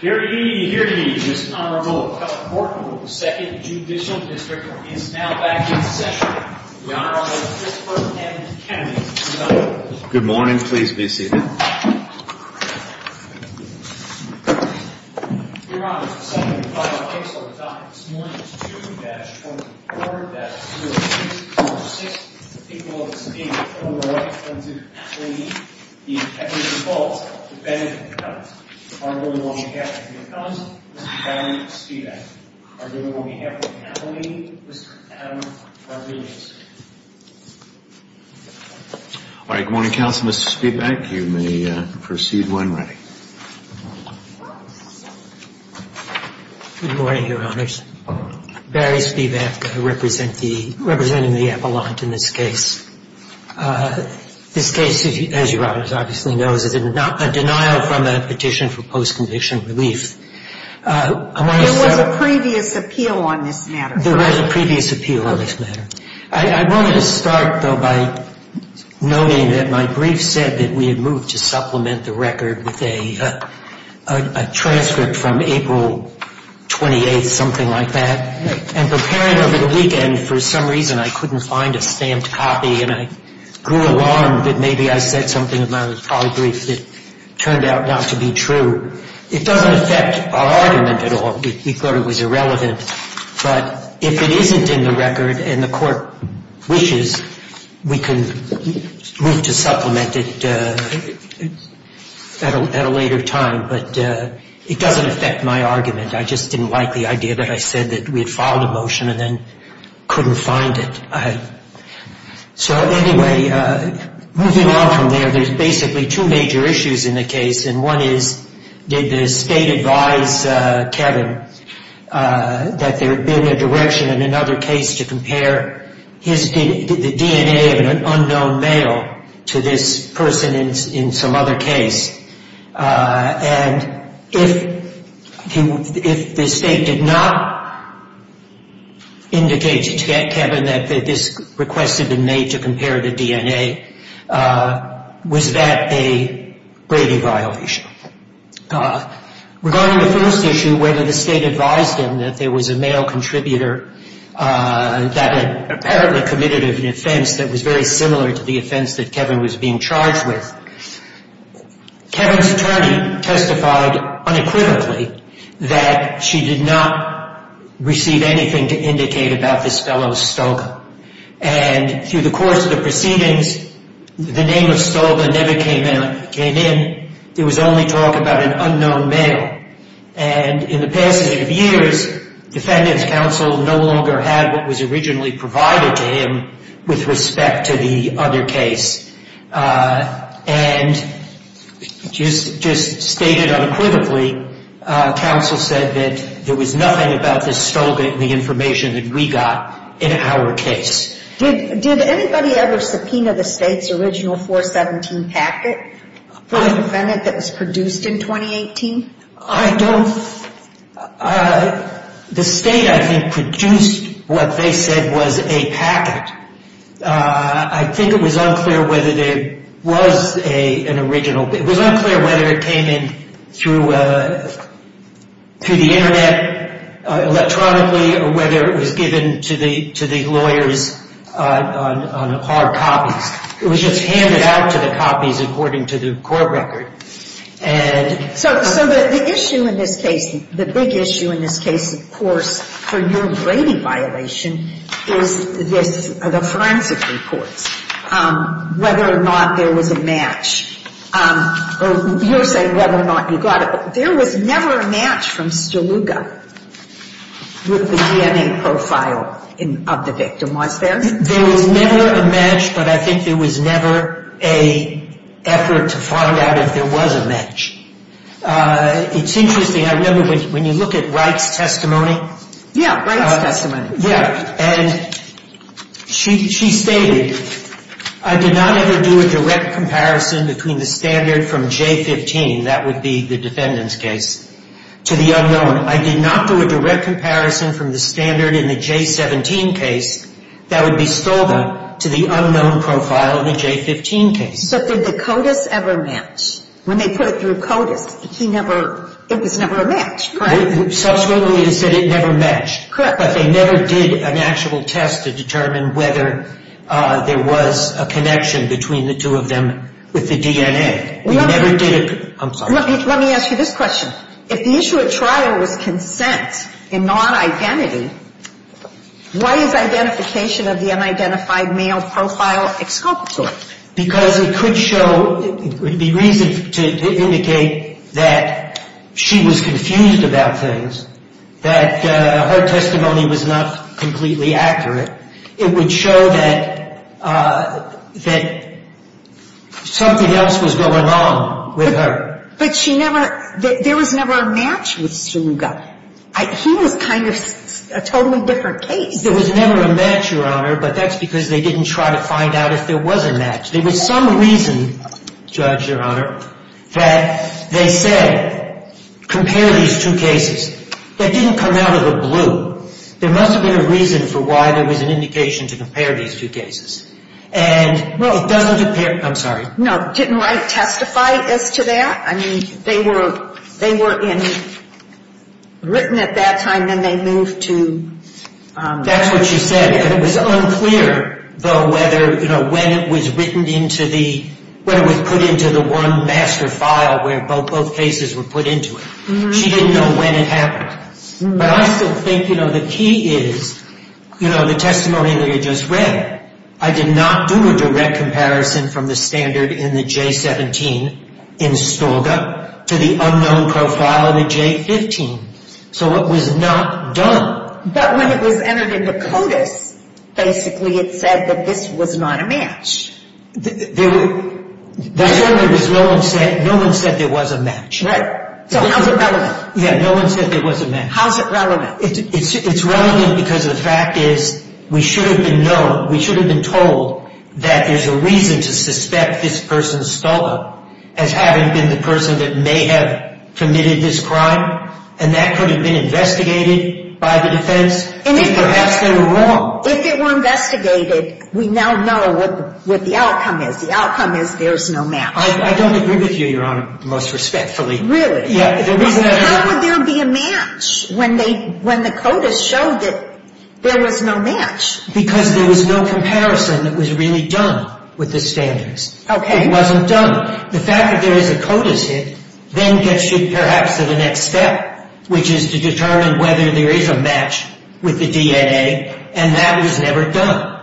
Here to eat, here to eat, Mr. Honorable Howard Morton of the 2nd Judicial District, is now back in session. The Honorable Christopher M. Kennedy, tonight. Good morning, please be seated. Your Honor, the second and final case on the topic this morning is 2-44-0246. The people of the State of Oklahoma want to claim the evidence of fault, the benefit of the doubt. The Honorable William Gaffney McConnell, Mr. Barry Spivak. The Honorable William Gaffney McConnell, Mr. Adam Varughese. All right, good morning, Counsel. Mr. Spivak, you may proceed when ready. Good morning, Your Honors. Barry Spivak, representing the appellant in this case. This case, as Your Honors obviously know, is a denial from a petition for post-conviction relief. There was a previous appeal on this matter. There was a previous appeal on this matter. I wanted to start, though, by noting that my brief said that we had moved to supplement the record with a transcript from April 28th, something like that. And preparing over the weekend, for some reason I couldn't find a stamped copy. And I grew alarmed that maybe I said something about a polybrief that turned out not to be true. It doesn't affect our argument at all. We thought it was irrelevant. But if it isn't in the record and the court wishes, we can move to supplement it at a later time. But it doesn't affect my argument. I just didn't like the idea that I said that we had filed a motion and then couldn't find it. So anyway, moving on from there, there's basically two major issues in the case. And one is, did the state advise Kevin that there had been a direction in another case to compare the DNA of an unknown male to this person in some other case? And if the state did not indicate to Kevin that this request had been made to compare the DNA, was that a Brady violation? Regarding the first issue, whether the state advised him that there was a male contributor that had apparently committed an offense that was very similar to the offense that Kevin was being charged with, Kevin's attorney testified unequivocally that she did not receive anything to indicate about this fellow Stoga. And through the course of the proceedings, the name of Stoga never came in. It was only talk about an unknown male. And in the past eight years, Defendant's counsel no longer had what was originally provided to him with respect to the other case. And just stated unequivocally, counsel said that there was nothing about this Stoga in the information that we got in our case. Did anybody ever subpoena the state's original 417 packet for a defendant that was produced in 2018? I don't... The state, I think, produced what they said was a packet. I think it was unclear whether there was an original... on hard copies. It was just handed out to the copies according to the court record. And... So the issue in this case, the big issue in this case, of course, for your Brady violation is this, the forensic reports. Whether or not there was a match. You're saying whether or not you got it. There was never a match from Stoga with the DNA profile of the victim, was there? There was never a match, but I think there was never an effort to find out if there was a match. It's interesting, I remember when you look at Wright's testimony. Yeah, Wright's testimony. Yeah, and she stated, I did not ever do a direct comparison between the standard from J15, that would be the defendant's case, to the unknown. I did not do a direct comparison from the standard in the J17 case that would be Stoga to the unknown profile in the J15 case. So did the CODIS ever match? When they put it through CODIS, he never... It was never a match, correct? Subsequently, they said it never matched. Correct. But they never did an actual test to determine whether there was a connection between the two of them with the DNA. We never did a... I'm sorry. Let me ask you this question. If the issue at trial was consent and not identity, why is identification of the unidentified male profile exculpatory? Because it could show... It would be reason to indicate that she was confused about things, that her testimony was not completely accurate. It would show that something else was going on with her. But she never... There was never a match with Stoga. He was kind of a totally different case. There was never a match, Your Honor, but that's because they didn't try to find out if there was a match. There was some reason, Judge, Your Honor, that they said, compare these two cases. That didn't come out of the blue. There must have been a reason for why there was an indication to compare these two cases. And it doesn't appear... I'm sorry. No. Didn't Wright testify as to that? I mean, they were in... Written at that time, then they moved to... That's what she said. It was unclear, though, whether, you know, when it was written into the... When it was put into the one master file where both cases were put into it. She didn't know when it happened. But I still think, you know, the key is, you know, the testimony that you just read. I did not do a direct comparison from the standard in the J17 in Stoga to the unknown profile in the J15. So it was not done. But when it was entered into CODIS, basically it said that this was not a match. There were... That's what it was. No one said there was a match. Right. So how's it relevant? Yeah, no one said there was a match. How's it relevant? It's relevant because the fact is we should have been known, we should have been told that there's a reason to suspect this person, Stoga, as having been the person that may have committed this crime. And that could have been investigated by the defense. And perhaps they were wrong. If it were investigated, we now know what the outcome is. The outcome is there's no match. I don't agree with you, Your Honor, most respectfully. Really? Yeah, the reason I... How would there be a match when the CODIS showed that there was no match? Because there was no comparison that was really done with the standards. Okay. It wasn't done. The fact that there is a CODIS hit then gets you perhaps to the next step, which is to determine whether there is a match with the DNA, and that was never done.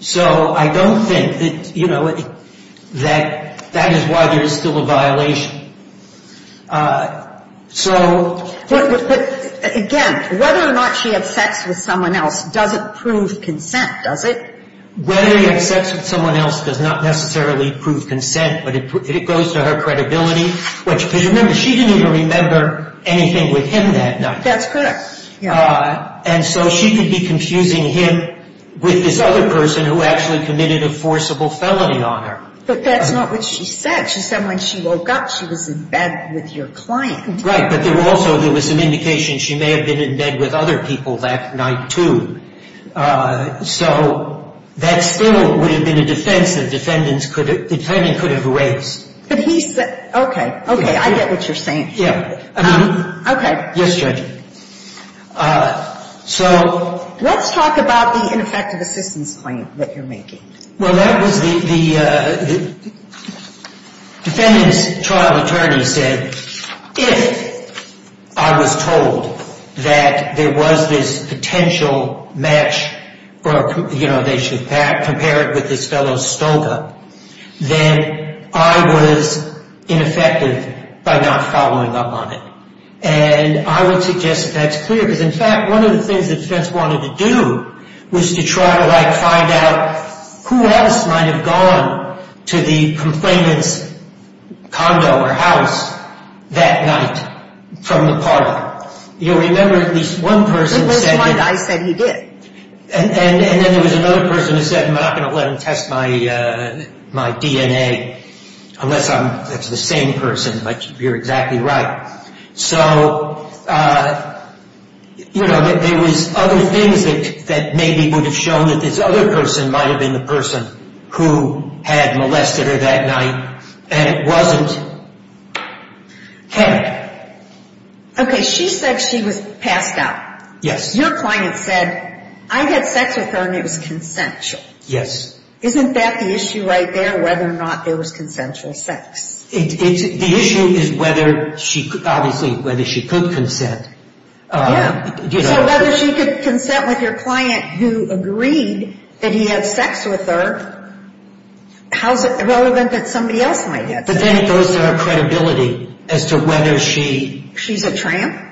So I don't think that, you know, that is why there is still a violation. So... But, again, whether or not she had sex with someone else doesn't prove consent, does it? Whether he had sex with someone else does not necessarily prove consent, but it goes to her credibility. Because remember, she didn't even remember anything with him that night. That's correct, yeah. And so she could be confusing him with this other person who actually committed a forcible felony on her. But that's not what she said. She said when she woke up, she was in bed with your client. Right, but there also was an indication she may have been in bed with other people that night, too. So that still would have been a defense the defendant could have raised. But he said... Okay, okay, I get what you're saying. Okay. Yes, Judge. So... Let's talk about the ineffective assistance claim that you're making. Well, that was the defendant's trial attorney said, if I was told that there was this potential match or, you know, they should compare it with this fellow Stoga, then I was ineffective by not following up on it. And I would suggest that's clear because, in fact, one of the things the defense wanted to do was to try to, like, find out who else might have gone to the complainant's condo or house that night from the parlor. You remember at least one person said... At least one guy said he did. And then there was another person who said, I'm not going to let him test my DNA unless I'm the same person. But you're exactly right. So, you know, there was other things that maybe would have shown that this other person might have been the person who had molested her that night. And it wasn't. Okay. Okay, she said she was passed out. Yes. Your client said, I had sex with her and it was consensual. Yes. Isn't that the issue right there, whether or not it was consensual sex? The issue is whether she, obviously, whether she could consent. Yeah. So whether she could consent with your client who agreed that he had sex with her, how's it relevant that somebody else might have sex? But then it goes to her credibility as to whether she... She's a tramp?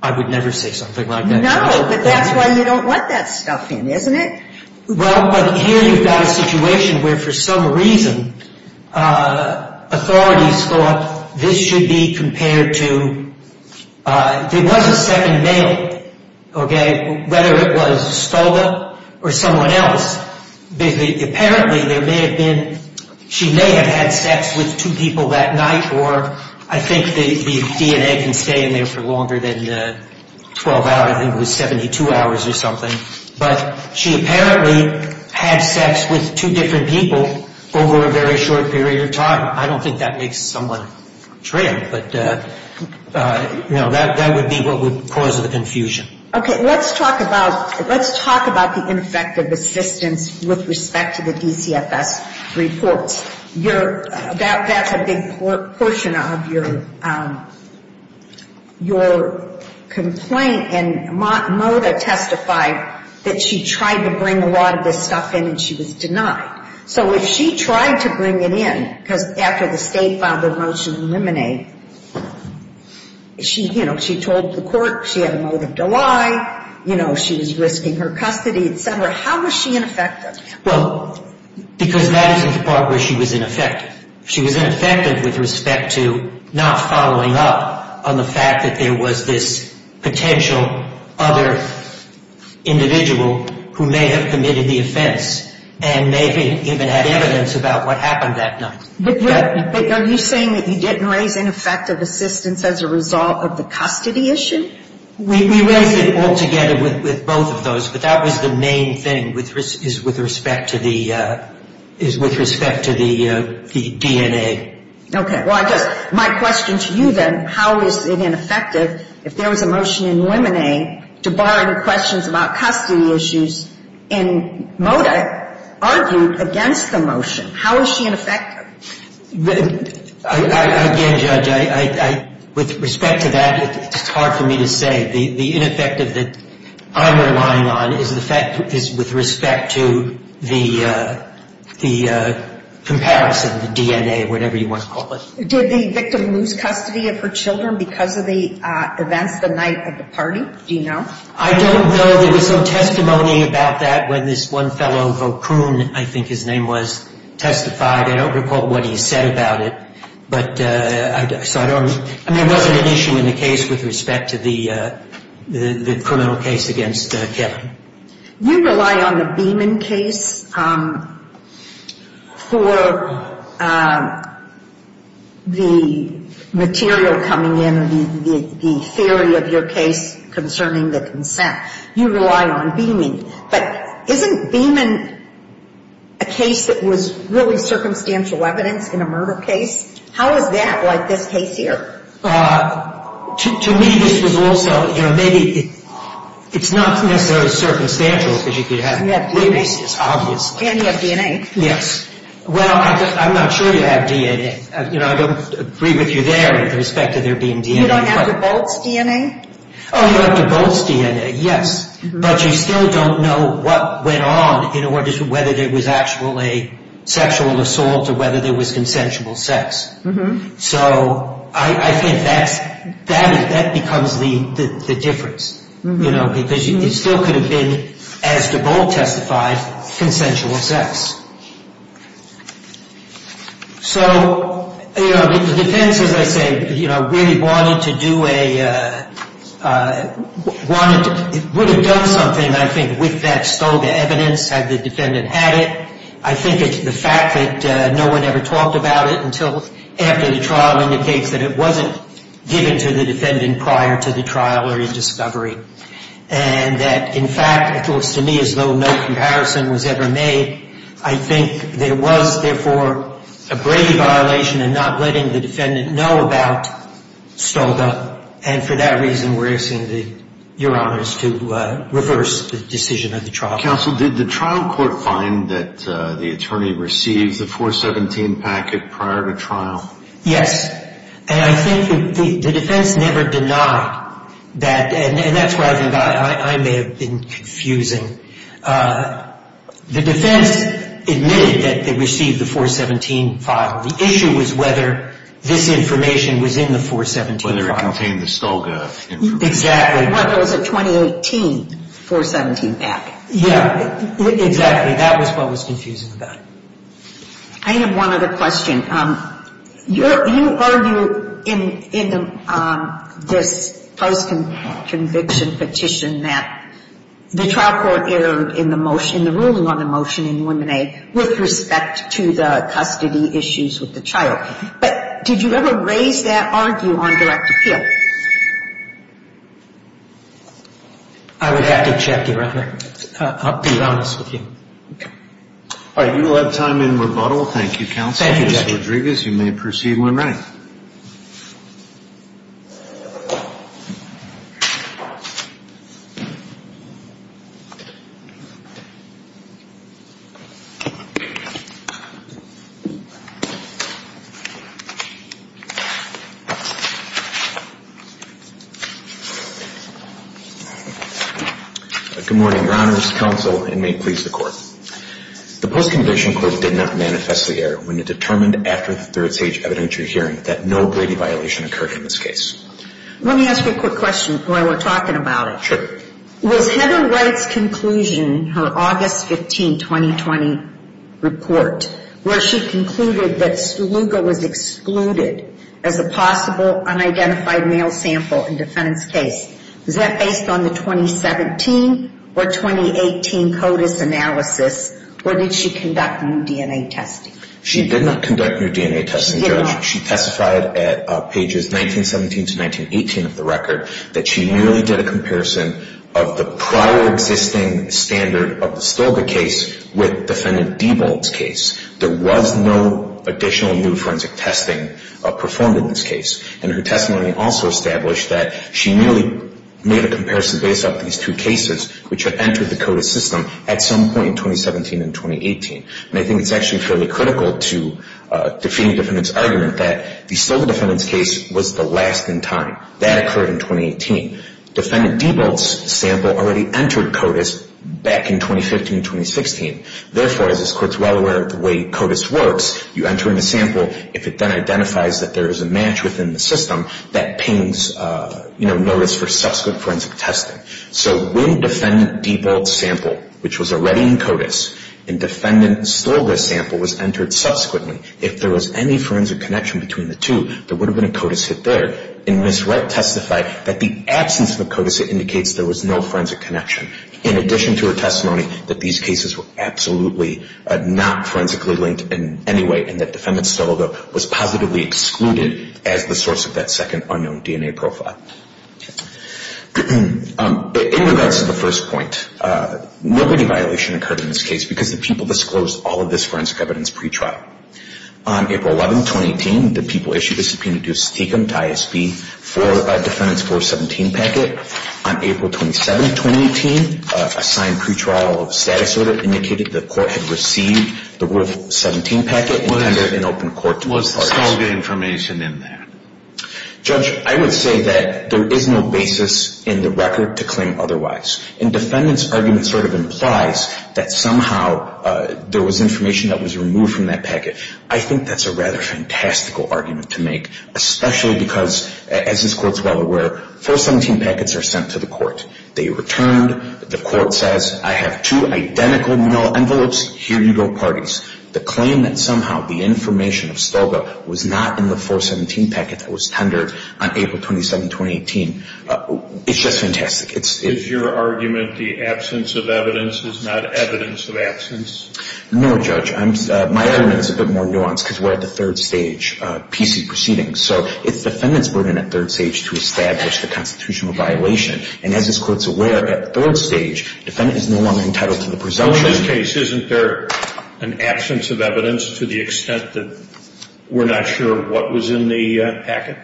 I would never say something like that. No, but that's why you don't let that stuff in, isn't it? Well, but here you've got a situation where, for some reason, authorities thought this should be compared to... There was a second male, okay, whether it was Stoga or someone else. Apparently, there may have been... She may have had sex with two people that night or I think the DNA can stay in there for longer than 12 hours. I think it was 72 hours or something. But she apparently had sex with two different people over a very short period of time. I don't think that makes someone a tramp, but that would be what would cause the confusion. Okay, let's talk about the ineffective assistance with respect to the DCFS reports. That's a big portion of your complaint. And Mota testified that she tried to bring a lot of this stuff in and she was denied. So if she tried to bring it in because after the state filed the motion to eliminate, she told the court she had a motive to lie. She was risking her custody, et cetera. How was she ineffective? Well, because that is the part where she was ineffective. She was ineffective with respect to not following up on the fact that there was this potential other individual who may have committed the offense and maybe even had evidence about what happened that night. But are you saying that you didn't raise ineffective assistance as a result of the custody issue? We raised it all together with both of those. But that was the main thing, is with respect to the DNA. Okay. Well, I guess my question to you, then, how is it ineffective if there was a motion in Lemonade to bar any questions about custody issues and Mota argued against the motion? How is she ineffective? Again, Judge, with respect to that, it's hard for me to say. The ineffective that I'm relying on is with respect to the comparison, the DNA, whatever you want to call it. Did the victim lose custody of her children because of the events the night of the party? Do you know? I don't know. Well, there was some testimony about that when this one fellow, Vokun, I think his name was, testified. I don't recall what he said about it. But so I don't know. I mean, it wasn't an issue in the case with respect to the criminal case against Kevin. You rely on the Beeman case for the material coming in, the theory of your case concerning the consent. You rely on Beeman. But isn't Beeman a case that was really circumstantial evidence in a murder case? How is that like this case here? To me, this was also, you know, maybe it's not necessarily circumstantial because you could have witnesses, obviously. And you have DNA. Yes. Well, I'm not sure you have DNA. You know, I don't agree with you there with respect to there being DNA. You don't have DeBolt's DNA? Oh, you have DeBolt's DNA, yes. But you still don't know what went on in order to whether there was actually sexual assault or whether there was consensual sex. So I think that becomes the difference, you know, because it still could have been, as DeBolt testified, consensual sex. So, you know, the defense, as I say, you know, really wanted to do a – would have done something, I think, with that stolen evidence had the defendant had it. I think it's the fact that no one ever talked about it until after the trial indicates that it wasn't given to the defendant prior to the trial or in discovery. And that, in fact, it looks to me as though no comparison was ever made. I think there was, therefore, a grave violation in not letting the defendant know about Stolga. And for that reason, we're asking your honors to reverse the decision of the trial. Counsel, did the trial court find that the attorney received the 417 packet prior to trial? Yes. And I think the defense never denied that. And that's why I think I may have been confusing. The defense admitted that they received the 417 file. The issue was whether this information was in the 417 file. Whether it contained the Stolga information. Exactly. And whether it was a 2018 417 packet. Yeah. Exactly. That was what was confusing about it. I have one other question. You argue in this post-conviction petition that the trial court errored in the ruling on the motion in 1A with respect to the custody issues with the child. Did you ever raise that argue on direct appeal? I would have to check, Your Honor. I'll be honest with you. Okay. All right. You will have time in rebuttal. Thank you, counsel. Thank you, Judge. Ms. Rodriguez, you may proceed when ready. Good morning, Your Honors, counsel, and may it please the court. The post-conviction court did not manifest the error when it determined after the third stage evidentiary hearing that no Brady violation occurred in this case. Let me ask you a quick question while we're talking about it. Was Heather Wright's conclusion, her August 15, 2020 report, where she concluded that Stolga was excluded as a possible unidentified male sample in defendant's case, was that based on the 2017 or 2018 CODIS analysis, or did she conduct new DNA testing? She did not conduct new DNA testing, Judge. She testified at pages 1917 to 1918 of the record that she merely did a comparison of the prior existing standard of the Stolga case with defendant Diebold's case. There was no additional new forensic testing performed in this case. And her testimony also established that she merely made a comparison based off these two cases, which had entered the CODIS system at some point in 2017 and 2018. And I think it's actually fairly critical to defeating defendant's argument that the Stolga defendant's case was the last in time. That occurred in 2018. Defendant Diebold's sample already entered CODIS back in 2015 and 2016. Therefore, as this Court is well aware of the way CODIS works, you enter in a sample. If it then identifies that there is a match within the system, that pings notice for subsequent forensic testing. So when defendant Diebold's sample, which was already in CODIS, and defendant Stolga's sample was entered subsequently, if there was any forensic connection between the two, there would have been a CODIS hit there. And Ms. Wright testified that the absence of a CODIS hit indicates there was no forensic connection. In addition to her testimony that these cases were absolutely not forensically linked in any way, and that defendant Stolga was positively excluded as the source of that second unknown DNA profile. In regards to the first point, nobody violation occurred in this case because the people disclosed all of this forensic evidence pre-trial. On April 11, 2018, the people issued a subpoena to Stechem, to ISB, for defendant's 417 packet. On April 27, 2018, a signed pre-trial status order indicated the court had received the 417 packet and entered it in open court. Was Stolga information in there? Judge, I would say that there is no basis in the record to claim otherwise. And defendant's argument sort of implies that somehow there was information that was removed from that packet. I think that's a rather fantastical argument to make. Especially because, as this court is well aware, 417 packets are sent to the court. They return, the court says, I have two identical envelopes, here you go parties. The claim that somehow the information of Stolga was not in the 417 packet that was tendered on April 27, 2018, it's just fantastic. Is your argument the absence of evidence is not evidence of absence? No, Judge. My argument is a bit more nuanced because we're at the third stage PC proceedings. So it's defendant's burden at third stage to establish the constitutional violation. And as this court is aware, at third stage, defendant is no longer entitled to the presumption. Well, in this case, isn't there an absence of evidence to the extent that we're not sure what was in the packet?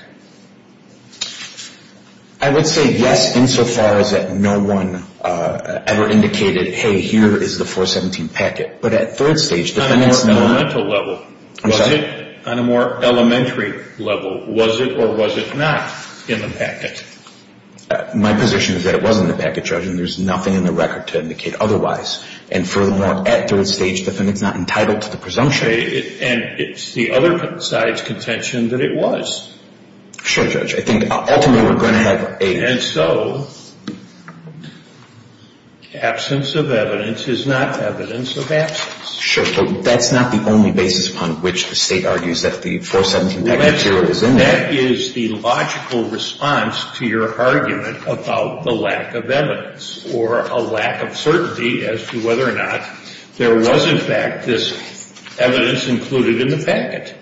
I would say yes, insofar as that no one ever indicated, hey, here is the 417 packet. But at third stage, defendant's not. On a more elemental level. I'm sorry? On a more elementary level. Was it or was it not in the packet? My position is that it was in the packet, Judge, and there's nothing in the record to indicate otherwise. And furthermore, at third stage, defendant's not entitled to the presumption. And it's the other side's contention that it was. Sure, Judge. I think ultimately we're going to have a. And so absence of evidence is not evidence of absence. Sure. But that's not the only basis upon which the State argues that the 417 packet zero is in there. That is the logical response to your argument about the lack of evidence or a lack of certainty as to whether or not there was, in fact, this evidence included in the packet.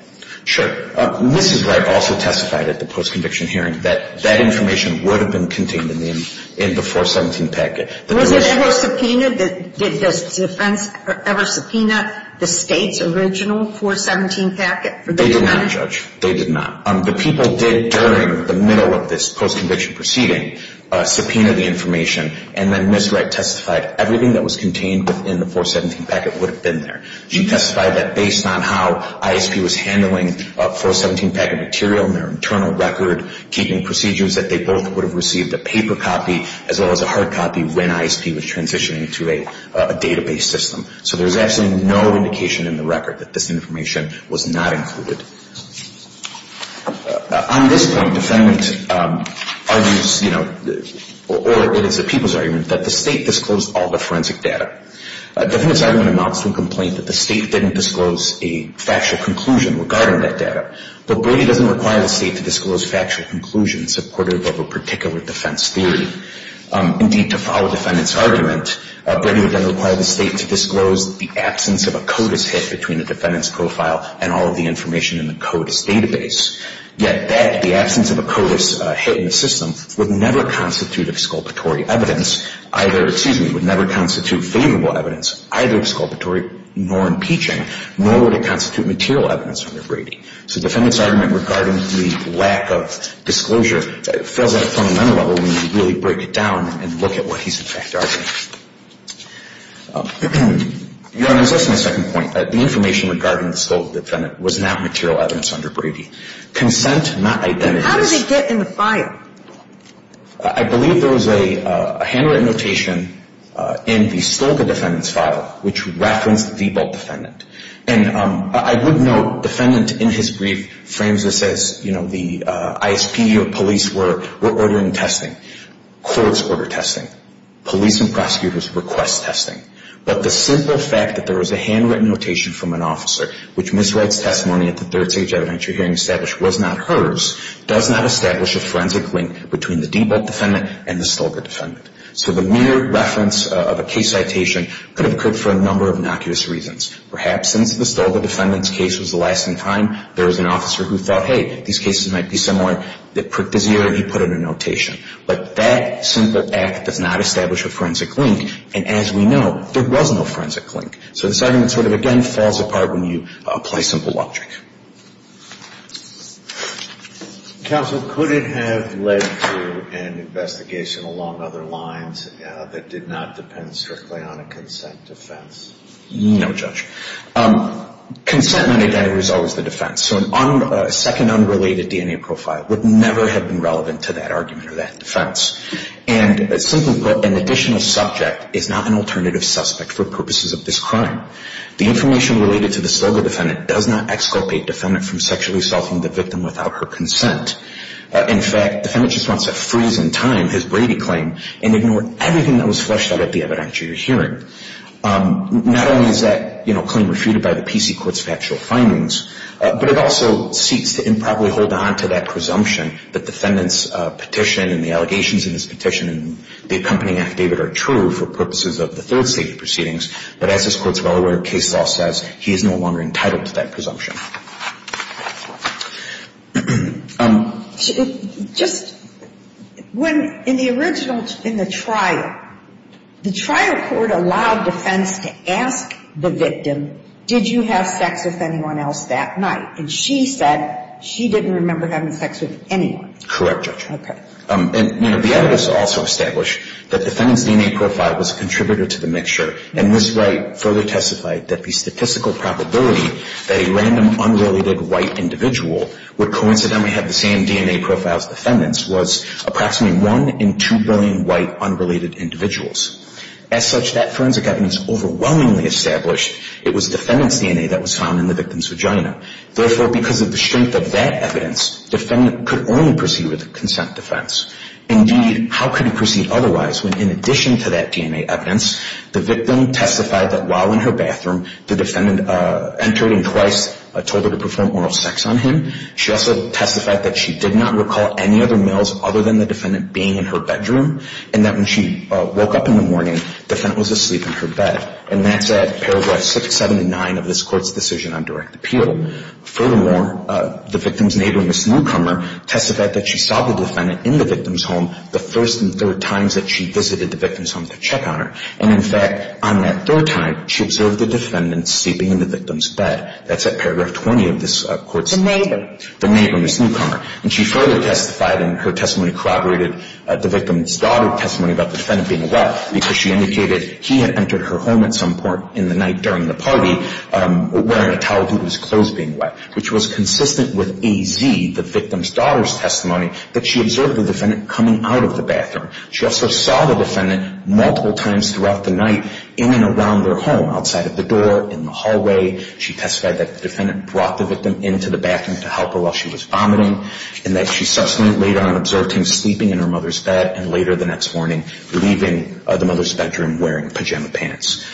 Sure. Mrs. Wright also testified at the post-conviction hearing that that information would have been contained in the 417 packet. Was it ever subpoenaed? Did the defense ever subpoena the State's original 417 packet? They did not, Judge. They did not. The people did, during the middle of this post-conviction proceeding, subpoena the information, and then Mrs. Wright testified everything that was contained within the 417 packet would have been there. She testified that based on how ISP was handling 417 packet material in their internal record, keeping procedures, that they both would have received a paper copy as well as a hard copy when ISP was transitioning to a database system. So there's absolutely no indication in the record that this information was not included. On this point, defendant argues, you know, or it is the people's argument, that the State disclosed all the forensic data. Defendant's argument amounts to a complaint that the State didn't disclose a factual conclusion regarding that data. But Brady doesn't require the State to disclose factual conclusions supportive of a particular defense theory. Indeed, to follow defendant's argument, Brady would then require the State to disclose the absence of a CODIS hit between the defendant's profile and all of the information in the CODIS database. Yet that, the absence of a CODIS hit in the system, would never constitute exculpatory evidence, either, excuse me, would never constitute favorable evidence, either exculpatory nor impeaching, nor would it constitute material evidence under Brady. So defendant's argument regarding the lack of disclosure fails at a fundamental level when you really break it down and look at what he's, in fact, arguing. Your Honor, I was asking a second point. The information regarding the stolen defendant was not material evidence under Brady. Consent, not identity. How did they get in the file? I believe there was a handwritten notation in the stolen defendant's file which referenced the default defendant. And I would note defendant, in his brief, frames this as, you know, the ISP or police were ordering testing. Courts order testing. Police and prosecutors request testing. But the simple fact that there was a handwritten notation from an officer which Ms. Wright's testimony at the Third Stage Adventure Hearing established was not hers, does not establish a forensic link between the default defendant and the stolen defendant. So the mere reference of a case citation could have occurred for a number of innocuous reasons. Perhaps since the stolen defendant's case was the last in time, there was an officer who thought, hey, these cases might be similar. They pricked his ear and he put in a notation. But that simple act does not establish a forensic link. And as we know, there was no forensic link. So this argument sort of, again, falls apart when you apply simple logic. Counsel, could it have led to an investigation along other lines that did not depend strictly on a consent defense? No, Judge. Consent non-identity was always the defense. So a second unrelated DNA profile would never have been relevant to that argument or that defense. And simply put, an additional subject is not an alternative suspect for purposes of this crime. The information related to the stolen defendant does not exculpate defendant from sexually assaulting the victim without her consent. In fact, defendant just wants to freeze in time his Brady claim and ignore everything that was fleshed out at the evidence you're hearing. Not only is that claim refuted by the PC court's factual findings, but it also seeks to improperly hold on to that presumption that defendant's petition and the allegations in his petition and the accompanying affidavit are true for purposes of the third state proceedings. But as this court is well aware, case law says he is no longer entitled to that presumption. Just when in the original, in the trial, the trial court allowed defense to ask the victim, did you have sex with anyone else that night? And she said she didn't remember having sex with anyone. Correct, Judge. Okay. And, you know, the evidence also established that defendant's DNA profile was a contributor to the mixture, and this right further testified that the statistical probability that a random unrelated white individual would coincidentally have the same DNA profile as defendant's was approximately 1 in 2 billion white unrelated individuals. As such, that forensic evidence overwhelmingly established it was defendant's DNA that was found in the victim's vagina. Therefore, because of the strength of that evidence, defendant could only proceed with consent defense. Indeed, how could he proceed otherwise when, in addition to that DNA evidence, the victim testified that while in her bathroom, the defendant entered and twice told her to perform oral sex on him. She also testified that she did not recall any other males other than the defendant being in her bedroom, and that when she woke up in the morning, defendant was asleep in her bed. And that's at paragraph 679 of this court's decision on direct appeal. Furthermore, the victim's neighbor, Ms. Newcomer, testified that she saw the defendant in the victim's home the first and third times that she visited the victim's home to check on her. And, in fact, on that third time, she observed the defendant sleeping in the victim's bed. That's at paragraph 20 of this court's decision. The neighbor. The neighbor, Ms. Newcomer. And she further testified in her testimony corroborated the victim's daughter's testimony about the defendant being wet because she indicated he had entered her home at some point in the night during the party wearing a towel due to his clothes being wet, which was consistent with AZ, the victim's daughter's testimony, that she observed the defendant coming out of the bathroom. She also saw the defendant multiple times throughout the night in and around their home, outside of the door, in the hallway. She testified that the defendant brought the victim into the bathroom to help her while she was vomiting, and that she subsequently later on observed him sleeping in her mother's bed, and later the next morning leaving the mother's bedroom wearing pajama pants.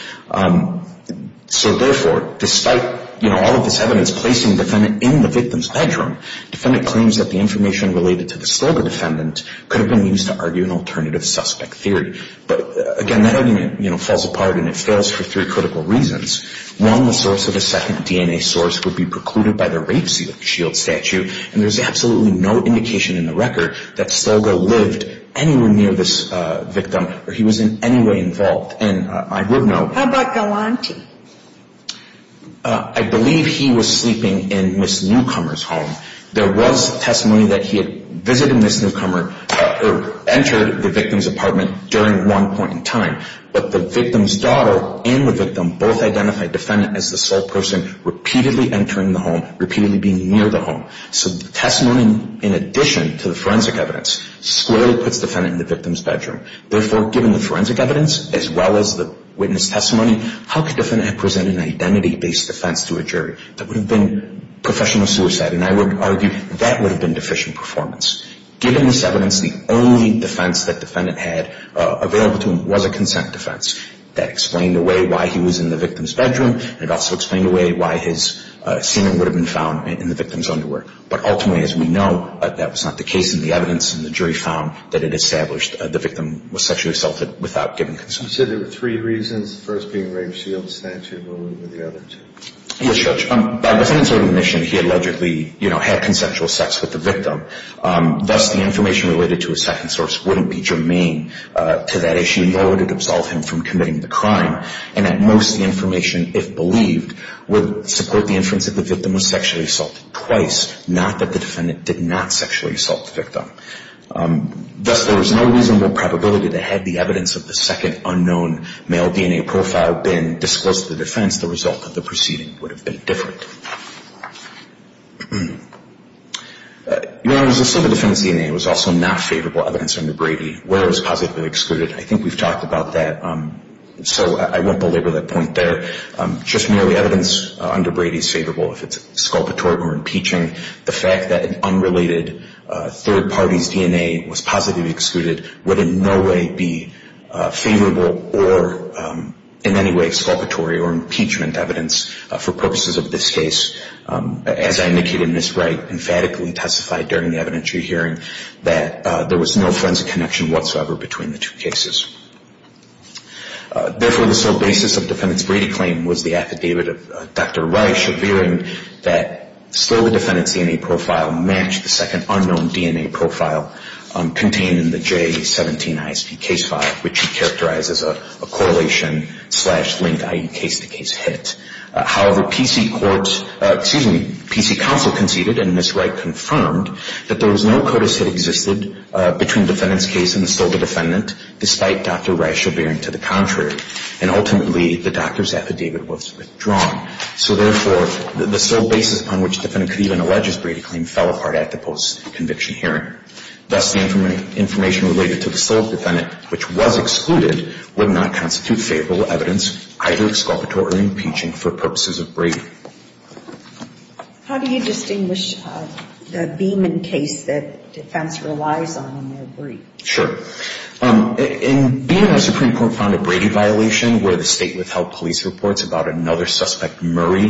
So, therefore, despite, you know, all of this evidence placing the defendant in the victim's bedroom, the defendant claims that the information related to the Stilgo defendant could have been used to argue an alternative suspect theory. But, again, that argument, you know, falls apart, and it fails for three critical reasons. One, the source of the second DNA source would be precluded by the rape shield statute, and there's absolutely no indication in the record that Stilgo lived anywhere near this victim or he was in any way involved. And I would note... How about Galanti? I believe he was sleeping in Ms. Newcomer's home. There was testimony that he had visited Ms. Newcomer or entered the victim's apartment during one point in time, but the victim's daughter and the victim both identified the defendant as the sole person repeatedly entering the home, repeatedly being near the home. So the testimony, in addition to the forensic evidence, slowly puts the defendant in the victim's bedroom. Therefore, given the forensic evidence as well as the witness testimony, how could the defendant have presented an identity-based defense to a jury? That would have been professional suicide, and I would argue that would have been deficient performance. Given this evidence, the only defense that the defendant had available to him was a consent defense. That explained away why he was in the victim's bedroom, and it also explained away why his semen would have been found in the victim's underwear. But ultimately, as we know, that was not the case. And the evidence in the jury found that it established the victim was sexually assaulted without giving consent. You said there were three reasons, the first being Raymshield's statute, and what were the other two? Yes, Judge. By the defendant's own admission, he allegedly, you know, had consensual sex with the victim. Thus, the information related to his second source wouldn't be germane to that issue, nor would it absolve him from committing the crime. And at most, the information, if believed, would support the inference that the victim was sexually assaulted twice, not that the defendant did not sexually assault the victim. Thus, there is no reasonable probability that had the evidence of the second unknown male DNA profile been disclosed to the defense, the result of the proceeding would have been different. Your Honor, as I said, the defendant's DNA was also not favorable evidence under Brady, where it was positively excluded. I think we've talked about that, so I won't belabor that point there. Just merely evidence under Brady is favorable if it's exculpatory or impeaching. The fact that an unrelated third party's DNA was positively excluded would in no way be favorable or in any way exculpatory or impeachment evidence for purposes of this case. As I indicated in this right, emphatically testified during the evidentiary hearing that there was no forensic connection whatsoever between the two cases. Therefore, the sole basis of defendant's Brady claim was the affidavit of Dr. Reich appearing that Stola defendant's DNA profile matched the second unknown DNA profile contained in the J-17 ISP case file, which he characterized as a correlation-slash-linked, i.e. case-to-case hit. However, PC Court's, excuse me, PC Counsel conceded in this right confirmed that there was no CODIS hit existed between defendant's case and the Stola defendant, despite Dr. Reich appearing to the contrary. And ultimately, the doctor's affidavit was withdrawn. So therefore, the sole basis upon which defendant could even allege his Brady claim fell apart at the post-conviction hearing. Thus, the information related to the Stola defendant, which was excluded, would not constitute favorable evidence, either exculpatory or impeaching, for purposes of Brady. How do you distinguish the Beeman case that defense relies on in their brief? Sure. In Beeman, the Supreme Court found a Brady violation where the state withheld police reports about another suspect, Murray,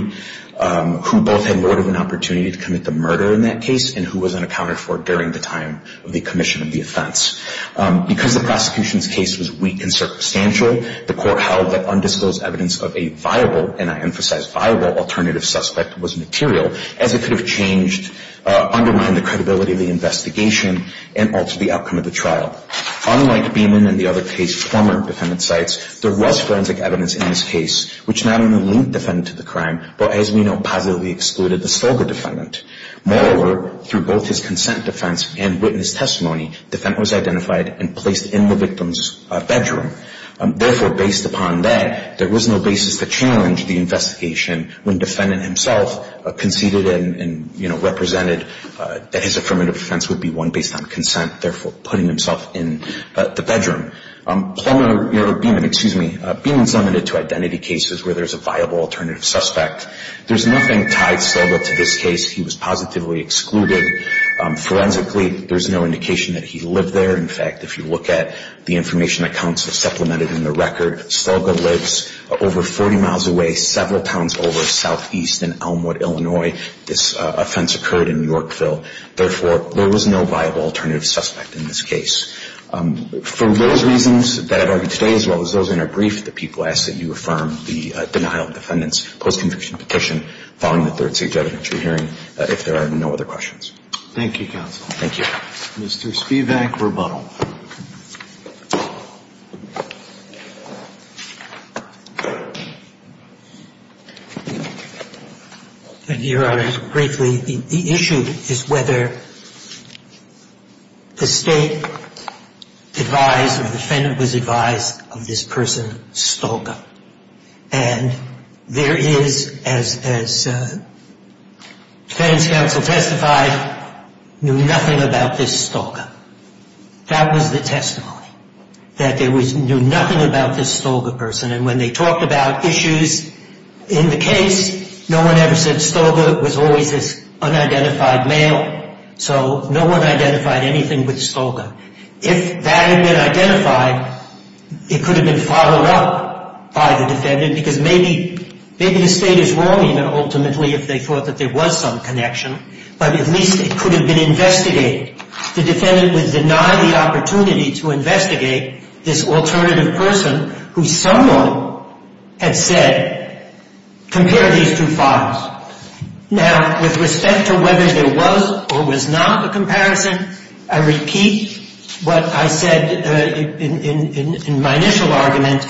who both had more of an opportunity to commit the murder in that case and who was unaccounted for during the time of the commission of the offense. Because the prosecution's case was weak and circumstantial, the court held that undisclosed evidence of a viable, and I emphasize viable, alternative suspect was material, as it could have changed, undermined the credibility of the investigation and altered the outcome of the trial. Unlike Beeman and the other case former defendant cites, there was forensic evidence in this case, which not only linked defendant to the crime, but, as we know, positively excluded the Stola defendant. Moreover, through both his consent defense and witness testimony, defendant was identified and placed in the victim's bedroom. Therefore, based upon that, there was no basis to challenge the investigation when defendant himself conceded and, you know, represented that his affirmative defense would be won based on consent, therefore putting himself in the bedroom. Beeman's limited to identity cases where there's a viable alternative suspect. There's nothing tied Stolga to this case. He was positively excluded. Forensically, there's no indication that he lived there. In fact, if you look at the information that counsel supplemented in the record, Stolga lives over 40 miles away, several towns over southeast in Elmwood, Illinois. This offense occurred in Yorkville. Therefore, there was no viable alternative suspect in this case. For those reasons that I've argued today, as well as those in our brief, the people ask that you affirm the denial of the defendant's post-conviction petition following the third-stage evidentiary hearing, if there are no other questions. Thank you, counsel. Thank you. Mr. Spivak, rebuttal. Thank you, Your Honor. Briefly, the issue is whether the State advised or the defendant was advised of this person, Stolga. And there is, as defense counsel testified, knew nothing about this Stolga. That was the testimony, that they knew nothing about this Stolga person. And when they talked about issues in the case, no one ever said Stolga was always this unidentified male. So no one identified anything with Stolga. If that had been identified, it could have been followed up by the defendant, because maybe the State is wrong, ultimately, if they thought that there was some connection. But at least it could have been investigated. The defendant would deny the opportunity to investigate this alternative person, who someone had said, compare these two files. Now, with respect to whether there was or was not a comparison, I repeat what I said in my initial argument,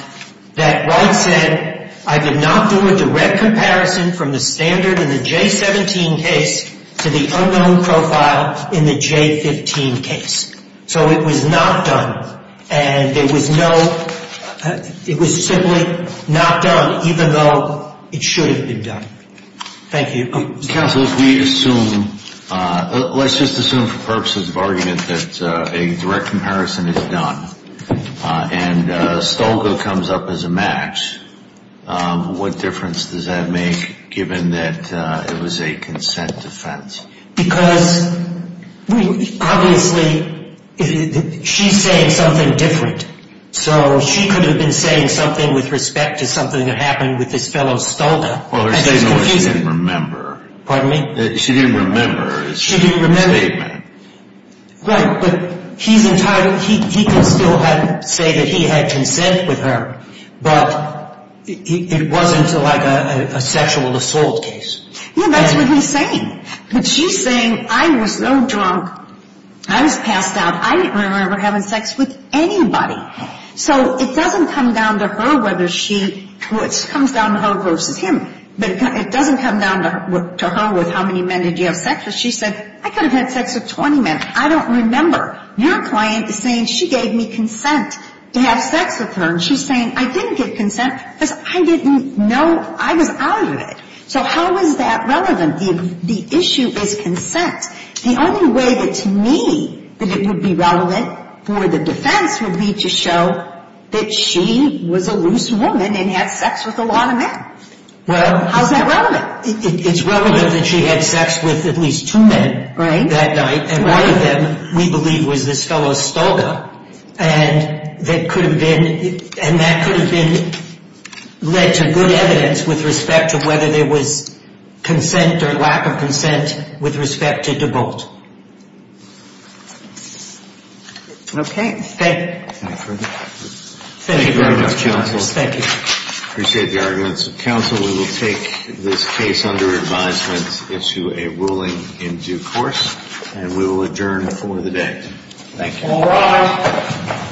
that Wright said, I did not do a direct comparison from the standard in the J17 case to the unknown profile in the J15 case. So it was not done. And it was no, it was simply not done, even though it should have been done. Thank you. Counsel, if we assume, let's just assume for purposes of argument that a direct comparison is done, and Stolga comes up as a match, what difference does that make, given that it was a consent defense? Because, obviously, she's saying something different. So she could have been saying something with respect to something that happened with this fellow Stolga. Well, there's something she didn't remember. Pardon me? She didn't remember his statement. Right, but he's entirely, he can still say that he had consent with her, but it wasn't like a sexual assault case. Yeah, that's what he's saying. But she's saying, I was so drunk, I was passed out, I didn't remember having sex with anybody. So it doesn't come down to her whether she, well, it comes down to her versus him, but it doesn't come down to her with how many men did you have sex with. She said, I could have had sex with 20 men. I don't remember. Your client is saying she gave me consent to have sex with her, and she's saying I didn't get consent because I didn't know I was out of it. So how is that relevant? The issue is consent. The only way that, to me, that it would be relevant for the defense would be to show that she was a loose woman and had sex with a lot of men. How is that relevant? It's relevant that she had sex with at least two men that night, and one of them, we believe, was this fellow Stolga, and that could have been led to good evidence with respect to whether there was consent or lack of consent with respect to DeBolt. Okay. Thank you. Thank you very much, counsel. Thank you. Appreciate the arguments. Counsel, we will take this case under advisement into a ruling in due course, and we will adjourn for the day. Thank you. All rise.